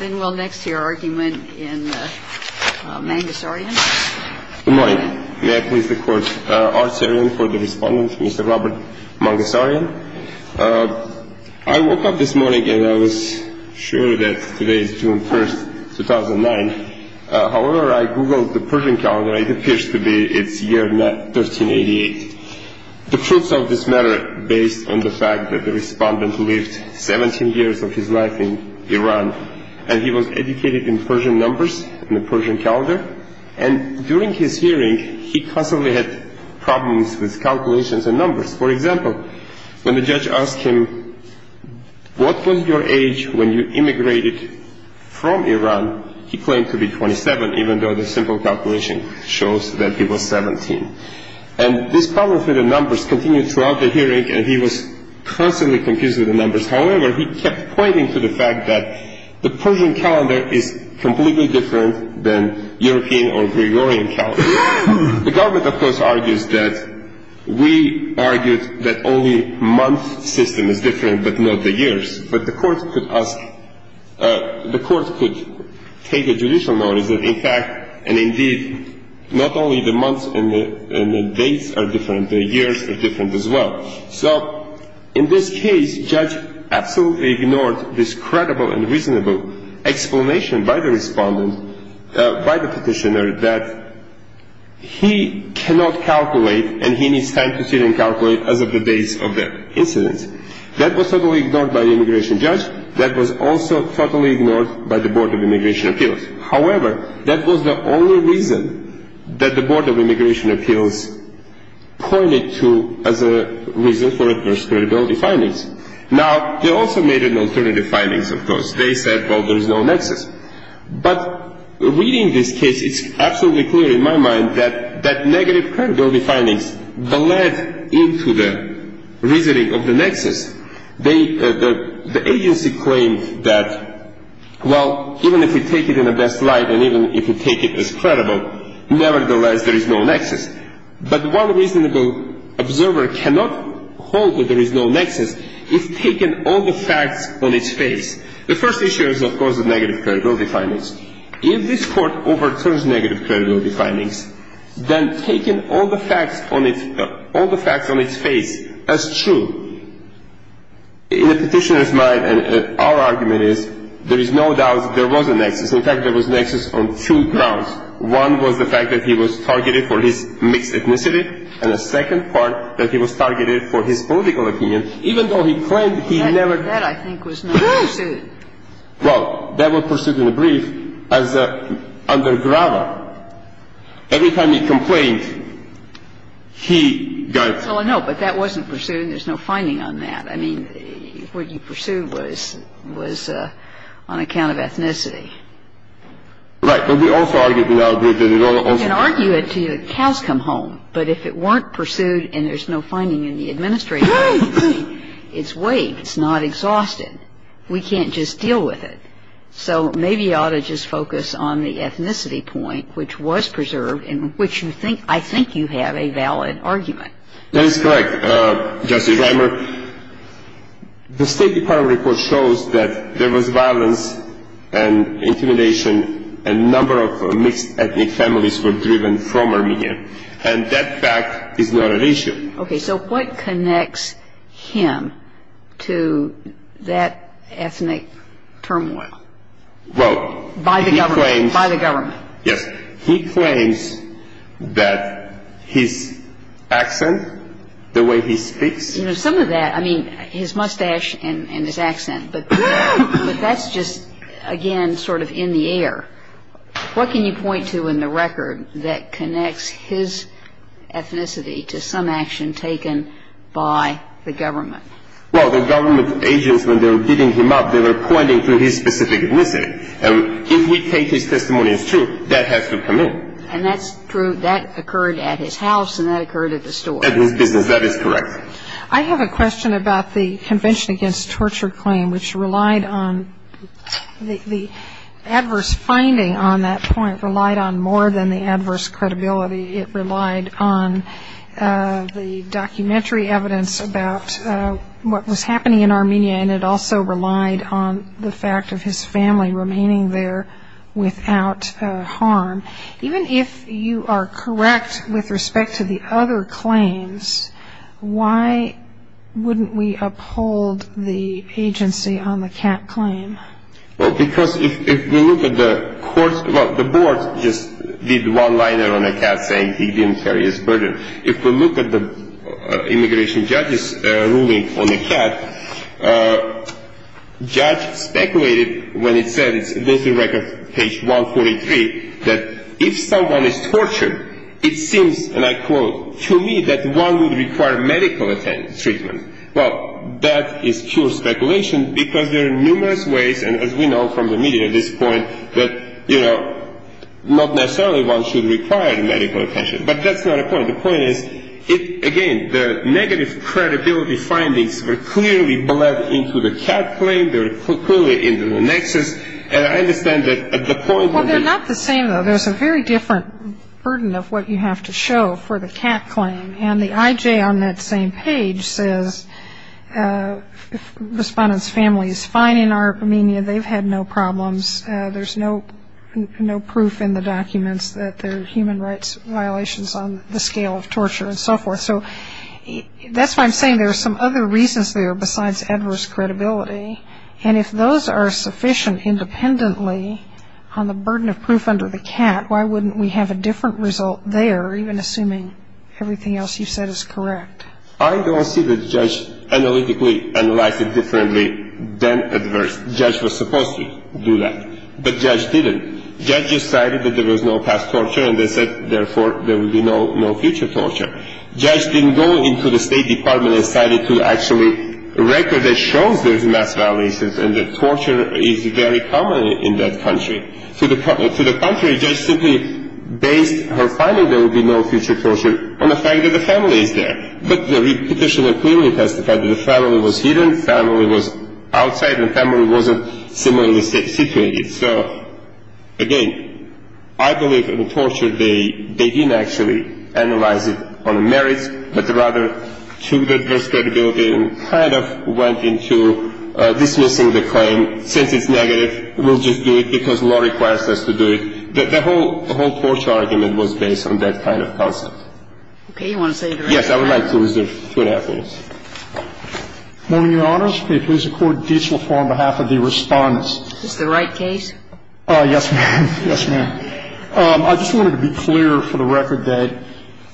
I woke up this morning and I was sure that today is June 1, 2009. However, I googled the Persian calendar and it appears to be its year 1388. The truths of this matter based on the fact that the respondent lived 17 years of his life in Iran and he was educated in Persian numbers, in the Persian calendar, and during his hearing he constantly had problems with calculations and numbers. For example, when the judge asked him, what was your age when you immigrated from Iran, he claimed to be 27, even though the simple calculation shows that he was 17. And this problem with the numbers continued throughout the hearing and he was constantly confused with the numbers. However, he kept pointing to the fact that the Persian calendar is completely different than European or Gregorian calendar. The government of course argues that, we argued that only month system is different but not the years. But the court could ask, the court could take a judicial notice that in fact and indeed not only the months and the dates are different, the years are different as well. So in this case, judge absolutely ignored this credible and reasonable explanation by the respondent, by the petitioner that he cannot calculate and he needs time to sit and calculate as of the dates of the incidents. That was totally ignored by the immigration judge. That was also totally ignored by the Board of Immigration Appeals. However, that was the only reason that the Board of Immigration Appeals pointed to as a reason for adverse credibility findings. Now, they also made an alternative findings of course. They said, well there is no nexus. But reading this case, it's absolutely clear in my mind that negative credibility findings bled into the reasoning of the nexus. The agency claimed that, well even if we take it in the best light and even if we take it as credible, nevertheless there is no nexus. But one reasonable observer cannot hold that there is no nexus if taken all the facts on its face. The first issue is of course the negative credibility findings. If this court overturns negative credibility findings, then taking all the facts on its face as true, in the petitioner's mind, our argument is there is no doubt that there was a nexus. In fact, there was a nexus on two grounds. One was the fact that he was targeted for his mixed ethnicity and the second part that he was targeted for his political opinion even though he claimed he never… Well, that was pursued in a brief as an undergrader. Every time he complained, he got… Well, no, but that wasn't pursued and there is no finding on that. I mean, what you pursued was on account of ethnicity. Right, but we also argued that it also… You can argue it until the cows come home, but if it weren't pursued and there is no we can't just deal with it. So maybe you ought to just focus on the ethnicity point which was preserved and which you think… I think you have a valid argument. That is correct, Justice Kramer. The State Department report shows that there was violence and intimidation and a number of mixed ethnic families were driven from Armenia and that fact is not an issue. Okay, so what connects him to that ethnic turmoil? Well, he claims… By the government? By the government. Yes. He claims that his accent, the way he speaks… You know, some of that, I mean, his mustache and his accent, but that is just, again, sort of in the air. What can you point to in the record that connects his ethnicity to some action taken by the government? Well, the government agents, when they were beating him up, they were pointing to his specific ethnicity. If we take his testimony as true, that has to come in. And that's true. That occurred at his house and that occurred at the store. At his business. That is correct. I have a question about the Convention Against Torture claim which relied on… the adverse finding on that point relied on more than the adverse credibility. It relied on the documentary evidence about what was happening in Armenia and it also relied on the fact of his family remaining there without harm. Even if you are correct with respect to the other claims, why wouldn't we uphold the agency on the cat claim? Well, because if we look at the court… well, the board just did one liner on the cat saying he didn't carry his burden. If we look at the immigration judge's ruling on the cat, judge speculated when it said, it's in the record, page 143, that if someone is tortured, it seems, and I quote, to me that one would require medical treatment. Well, that is pure case. And as we know from the media at this point, that, you know, not necessarily one should require medical attention. But that's not the point. The point is, again, the negative credibility findings were clearly bled into the cat claim. They were clearly in the nexus. And I understand that at the point… Well, they're not the same, though. There's a very different burden of what you have to show for the cat claim. And the IJ on that same page says, if the respondent's family is fine in Armenia, they've had no problems, there's no proof in the documents that there are human rights violations on the scale of torture and so forth. So that's why I'm saying there are some other reasons there besides adverse credibility. And if those are sufficient independently on the burden of proof under the cat, why wouldn't we have a different result there, even assuming everything else you've said is correct? I don't see the judge analytically analyzing differently than adverse. The judge was supposed to do that, but the judge didn't. The judge decided that there was no past torture, and they said, therefore, there will be no future torture. The judge didn't go into the State Department and decided to actually record that shows there's mass violations and that torture is very common in that country. To the contrary, the judge simply based her finding there will be no future torture on the fact that the family is there. But the petitioner clearly testified that the family was hidden, the family was outside, and the family wasn't similarly situated. So, again, I believe in the torture, they didn't actually analyze it on the merits, but rather took the adverse credibility and kind of went into dismissing the claim, since it's negative, we'll just do it because law requires us to do it. The whole torture argument was based on that kind of concept. Okay. You want to say the rest? Yes. I would like to reserve two and a half minutes. Good morning, Your Honors. May it please the Court, Dietzle for on behalf of the Respondents. Is this the right case? Yes, ma'am. Yes, ma'am. I just wanted to be clear for the record that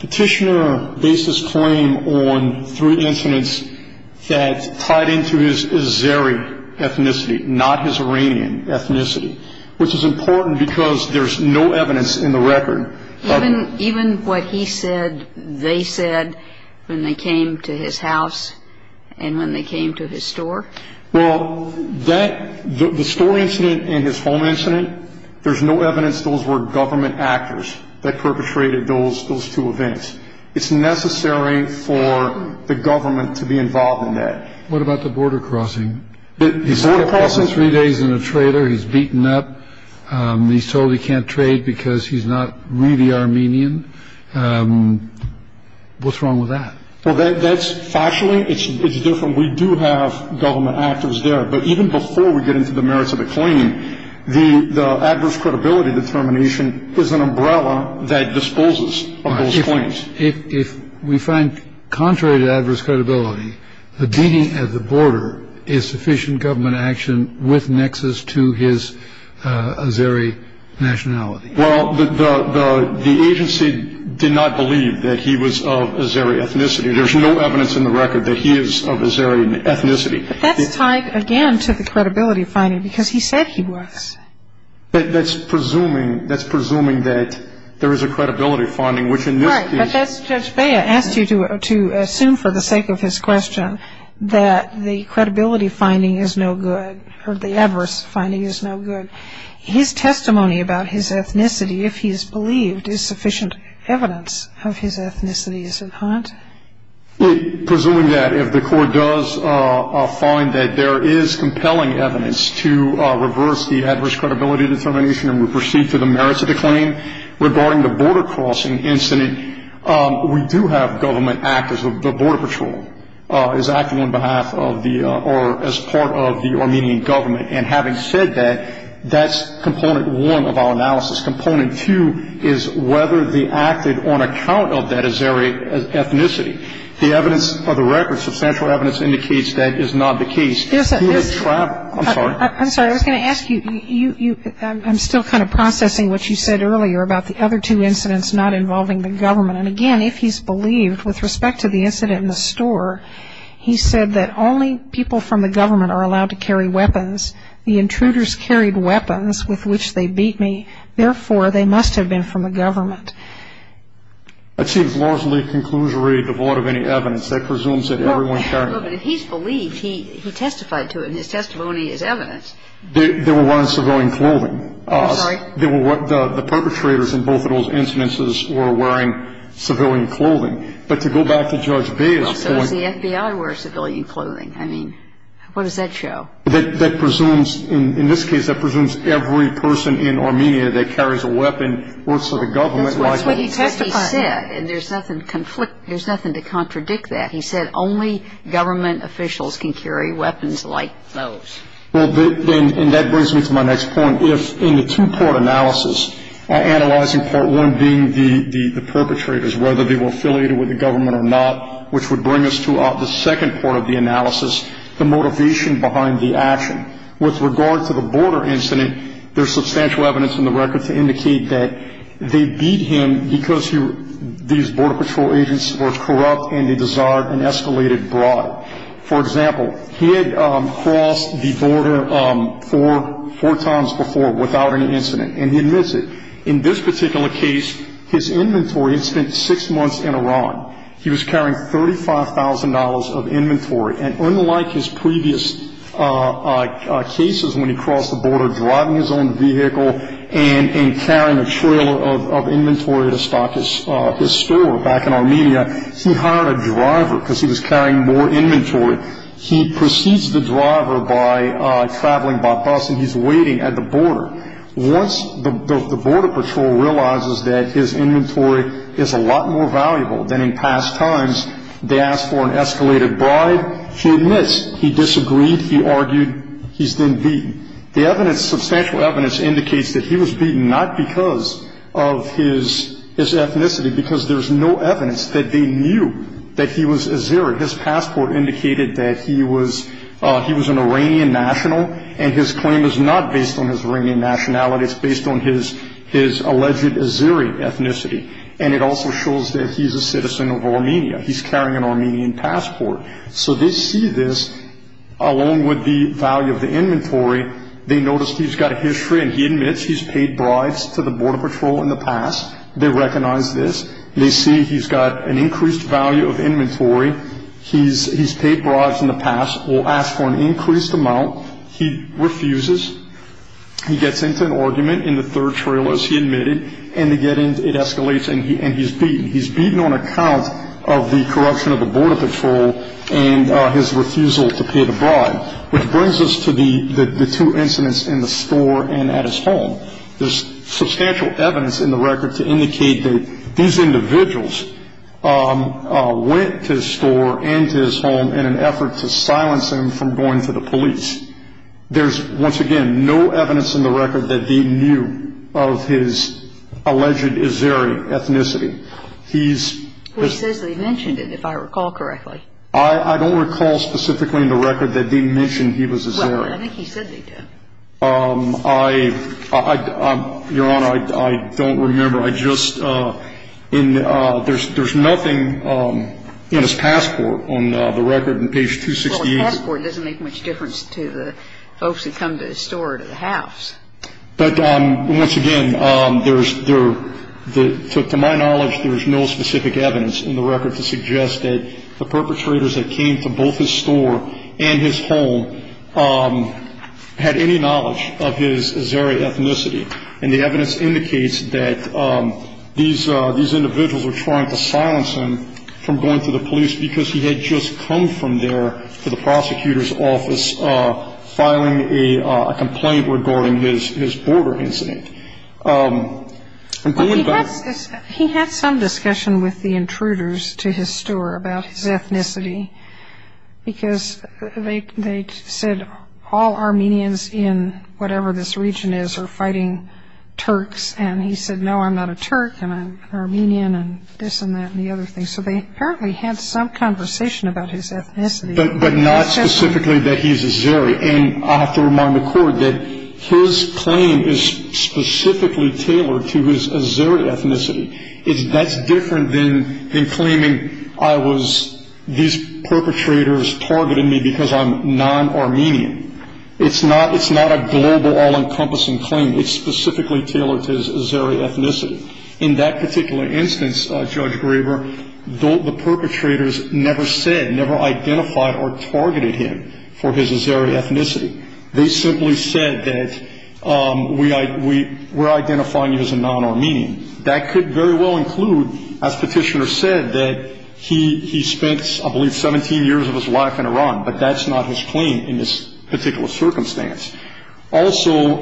the petitioner based his claim on three incidents that tied into his Azeri ethnicity, not his Iranian ethnicity, which is important because there's no evidence in the record. Even what he said, they said when they came to his house and when they came to his store? Well, that, the store incident and his home incident, there's no evidence those were government actors that perpetrated those two events. It's necessary for the government to be involved in that. What about the border crossing? He spent three days in a trailer. He's beaten up. He's told he can't trade because he's not really Armenian. What's wrong with that? Well, that's factually, it's different. We do have government actors there, but even before we get into the merits of the claim, the adverse credibility determination is an umbrella that disposes of those claims. If we find, contrary to adverse credibility, the beating at the border is sufficient government action with nexus to his Azeri nationality? Well, the agency did not believe that he was of Azeri ethnicity. There's no evidence in the record that he is of Azeri ethnicity. But that's tied again to the credibility finding because he said he was. That's presuming, that's presuming that there is a credibility finding, which in this case Judge Bea asked you to assume for the sake of his question that the credibility finding is no good, or the adverse finding is no good. His testimony about his ethnicity, if he is believed, is sufficient evidence of his ethnicity, is it not? Presuming that, if the court does find that there is compelling evidence to reverse the adverse credibility determination and we proceed to the merits of the claim regarding the border crossing incident, we do have government actors. The Border Patrol is acting on behalf of the or as part of the Armenian government. And having said that, that's component one of our analysis. Component two is whether they acted on account of that Azeri ethnicity. The evidence of the record, substantial evidence, indicates that is not the case. Yes, I'm sorry, I was going to ask you, I'm still kind of processing what you said earlier about the other two incidents not involving the government. And again, if he's believed, with respect to the incident in the store, he said that only people from the government are allowed to carry weapons. The intruders carried weapons with which they beat me. Therefore, they must have been from the government. I'd say it's largely a conclusionary, devoid of any evidence. That presumes that everyone carried weapons. Well, but if he's believed, he testified to it, and his testimony is evidence. There were ones surveilling clothing. I'm sorry? The perpetrators in both of those incidences were wearing civilian clothing. But to go back to Judge Baye's point Well, so does the FBI wear civilian clothing? I mean, what does that show? That presumes, in this case, that presumes every person in Armenia that carries a weapon works for the government, like That's what he testified He said, and there's nothing to conflict, there's nothing to contradict that. He said only government officials can carry weapons like those. Well, and that brings me to my next point. If, in the two-part analysis, analyzing part one being the perpetrators, whether they were affiliated with the government or not, which would bring us to the second part of the analysis, the motivation behind the action. With regard to the border incident, there's substantial evidence in the record to indicate that they beat him because these border patrol agents were corrupt and they desired an escalated bribe. For example, he had crossed the border four times before without any incident, and he admits it. In this particular case, his inventory had spent six months in Iran. He was carrying $35,000 of inventory, and unlike his previous cases when he crossed the border driving his own vehicle and carrying a trailer of inventory to stock his store back in Armenia, he hired a driver because he was carrying more inventory. He precedes the driver by traveling by bus, and he's waiting at the border. Once the border patrol realizes that his inventory is a lot more valuable than in past times, they ask for an escalated bribe. He admits he disagreed. He argued he's been beaten. The evidence, substantial evidence, indicates that he was beaten not because of his ethnicity, because there's no evidence that they knew that he was Azeri. His passport indicated that he was an Iranian national, and his claim is not based on his Iranian nationality. It's based on his alleged Azeri ethnicity, and it also shows that he's a citizen of Armenia. He's carrying an Armenian passport. So they see this, along with the value of the inventory. They notice he's got a history and he admits he's paid bribes to the border patrol in the past. They recognize this. They see he's got an increased value of inventory. He's paid bribes in the past, will ask for an increased amount. He refuses. He gets into an argument in the third trailer, as he admitted, and it escalates and he's beaten. He's beaten on account of the corruption of the border patrol and his refusal to pay the bribe, which brings us to the two incidents in the store and at his home. There's substantial evidence in the record to indicate that these individuals went to his store and to his home in an effort to silence him from going to the police. There's, once again, no evidence in the record that they knew of his alleged Azeri ethnicity. He's... He says they mentioned it, if I recall correctly. I don't recall specifically in the record that they mentioned he was Azeri. I think he said they did. I... Your Honor, I don't remember. I just... There's nothing in his passport on the record on page 268. Well, his passport doesn't make much difference to the folks who come to his store or to the house. But, once again, there's... To my knowledge, there's no specific evidence in the record to suggest that the perpetrators that came to both his store and his home had any knowledge of his Azeri ethnicity. And the evidence indicates that these individuals were trying to silence him from going to the police because he had just come from there to the prosecutor's office filing a complaint regarding his border incident. Well, he had some discussion with the intruders to his store about his ethnicity because they said all Armenians in whatever this region is are fighting Turks. And he said, no, I'm not a Turk. I'm an Armenian and this and that and the other thing. So they apparently had some conversation about his ethnicity. But not specifically that he's Azeri. And I have to remind the Court that his claim is specifically tailored to his Azeri ethnicity. That's different than claiming I was... These perpetrators targeted me because I'm non-Armenian. It's not a global, all-encompassing claim. It's specifically tailored to his Azeri ethnicity. In that particular instance, Judge Graber, the perpetrators never said, never identified or targeted him for his Azeri ethnicity. They simply said that we're identifying you as a non-Armenian. That could very well include, as Petitioner said, that he spent, I believe, 17 years of his life in Iran. But that's not his claim in this particular circumstance. Also,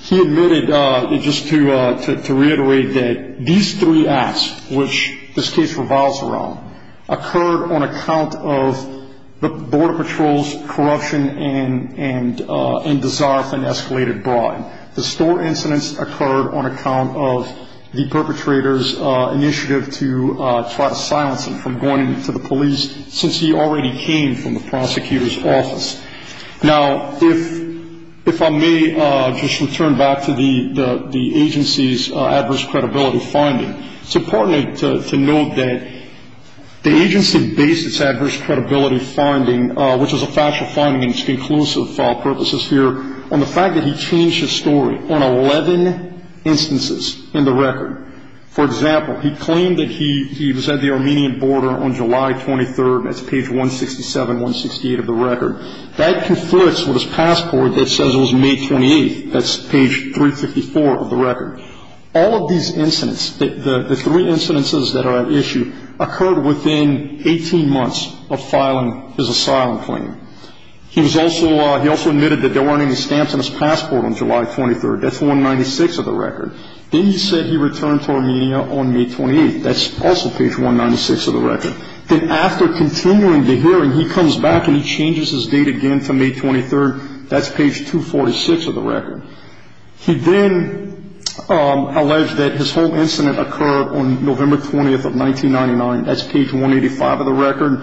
he admitted, just to reiterate, that these three acts, which this case reviles around, occurred on account of the Border Patrol's corruption and desire for an escalated bribe. The store incidents occurred on account of the perpetrator's initiative to try to silence him from going to the police, since he already came from the prosecutor's office. Now if I may just return back to the agency's adverse credibility finding. It's important to note that the agency based its adverse credibility finding, which is a factual finding and it's conclusive purposes here, on the fact that he changed his story on 11 instances in the record. For example, he claimed that he was at the Armenian border on July 23rd. That's page 167, 168 of the record. That conflicts with his passport that says it was May 28th. That's page 354 of the record. All of these incidents, the three incidences that are at issue, occurred within 18 months of filing his asylum claim. He was also, he also admitted that there weren't any stamps on his passport on July 23rd. That's 196 of the record. Then he said he returned to Armenia on May 28th. That's also page 196 of the record. Then after continuing the hearing, he comes back and he changes his date again to May 23rd. That's page 246 of the record. He then alleged that his whole incident occurred on November 20th of 1999. That's page 185 of the record.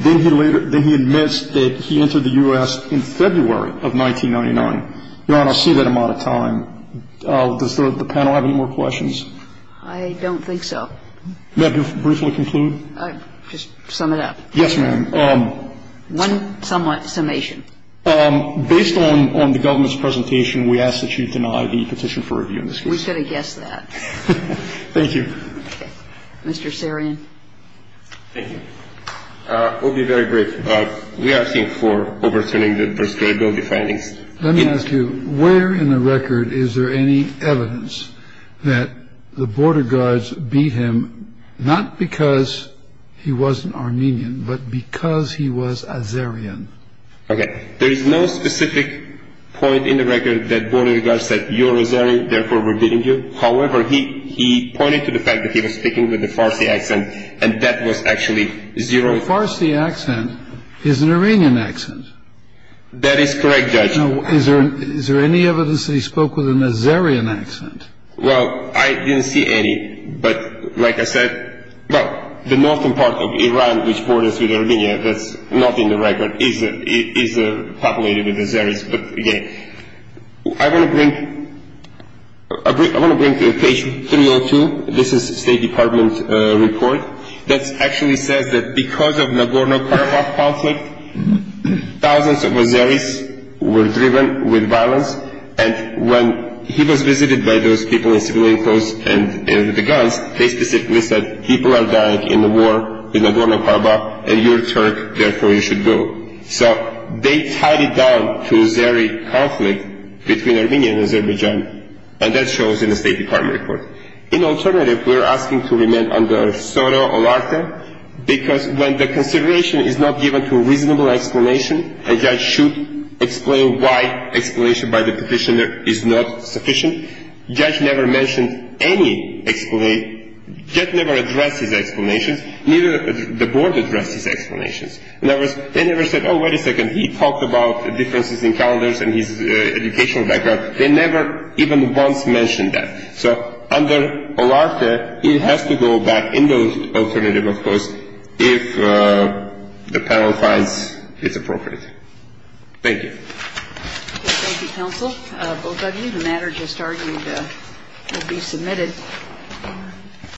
Then he later, then he admits that he entered the U.S. in February of 1999. Your Honor, I see that I'm out of time. Does the panel have any more questions? I don't think so. May I briefly conclude? Just sum it up. Yes, ma'am. One summation. Based on the government's presentation, we ask that you deny the petition for review in this case. We could have guessed that. Thank you. Mr. Sarian. Thank you. It will be very brief. We are seeking for overturning the First Grade Bill, the findings. Let me ask you, where in the record is there any evidence that the border guards beat him not because he wasn't Armenian, but because he was Azerian? Okay. There is no specific point in the record that border guards said, you're Azerian, therefore we're beating you. However, he pointed to the fact that he was speaking with a Farsi accent, and that was actually zero. A Farsi accent is an Armenian accent. That is correct, Judge. Now, is there any evidence that he spoke with an Azerian accent? Well, I didn't see any, but like I said, well, the northern part of Iran, which borders with is populated with Azeris. I want to bring to page 302. This is the State Department's report that actually says that because of Nagorno-Karabakh conflict, thousands of Azeris were driven with violence, and when he was visited by those people in civilian clothes and with the guns, they specifically said, people are dying in the war in Nagorno-Karabakh, and you're a Turk, therefore you should go. So, they tied it down to Azeri conflict between Armenia and Azerbaijan, and that shows in the State Department report. In alternative, we're asking to remain under Sono Olarte, because when the consideration is not given to a reasonable explanation, a judge should explain why explanation by the petitioner is not sufficient. Judge never mentioned any explanation. Neither did the board address his explanations. In other words, they never said, oh, wait a second, he talked about differences in calendars and his educational background. They never even once mentioned that. So, under Olarte, it has to go back in the alternative, of course, if the panel finds it's appropriate. Thank you. Thank you, counsel. Both of you, the matter just argued will be submitted.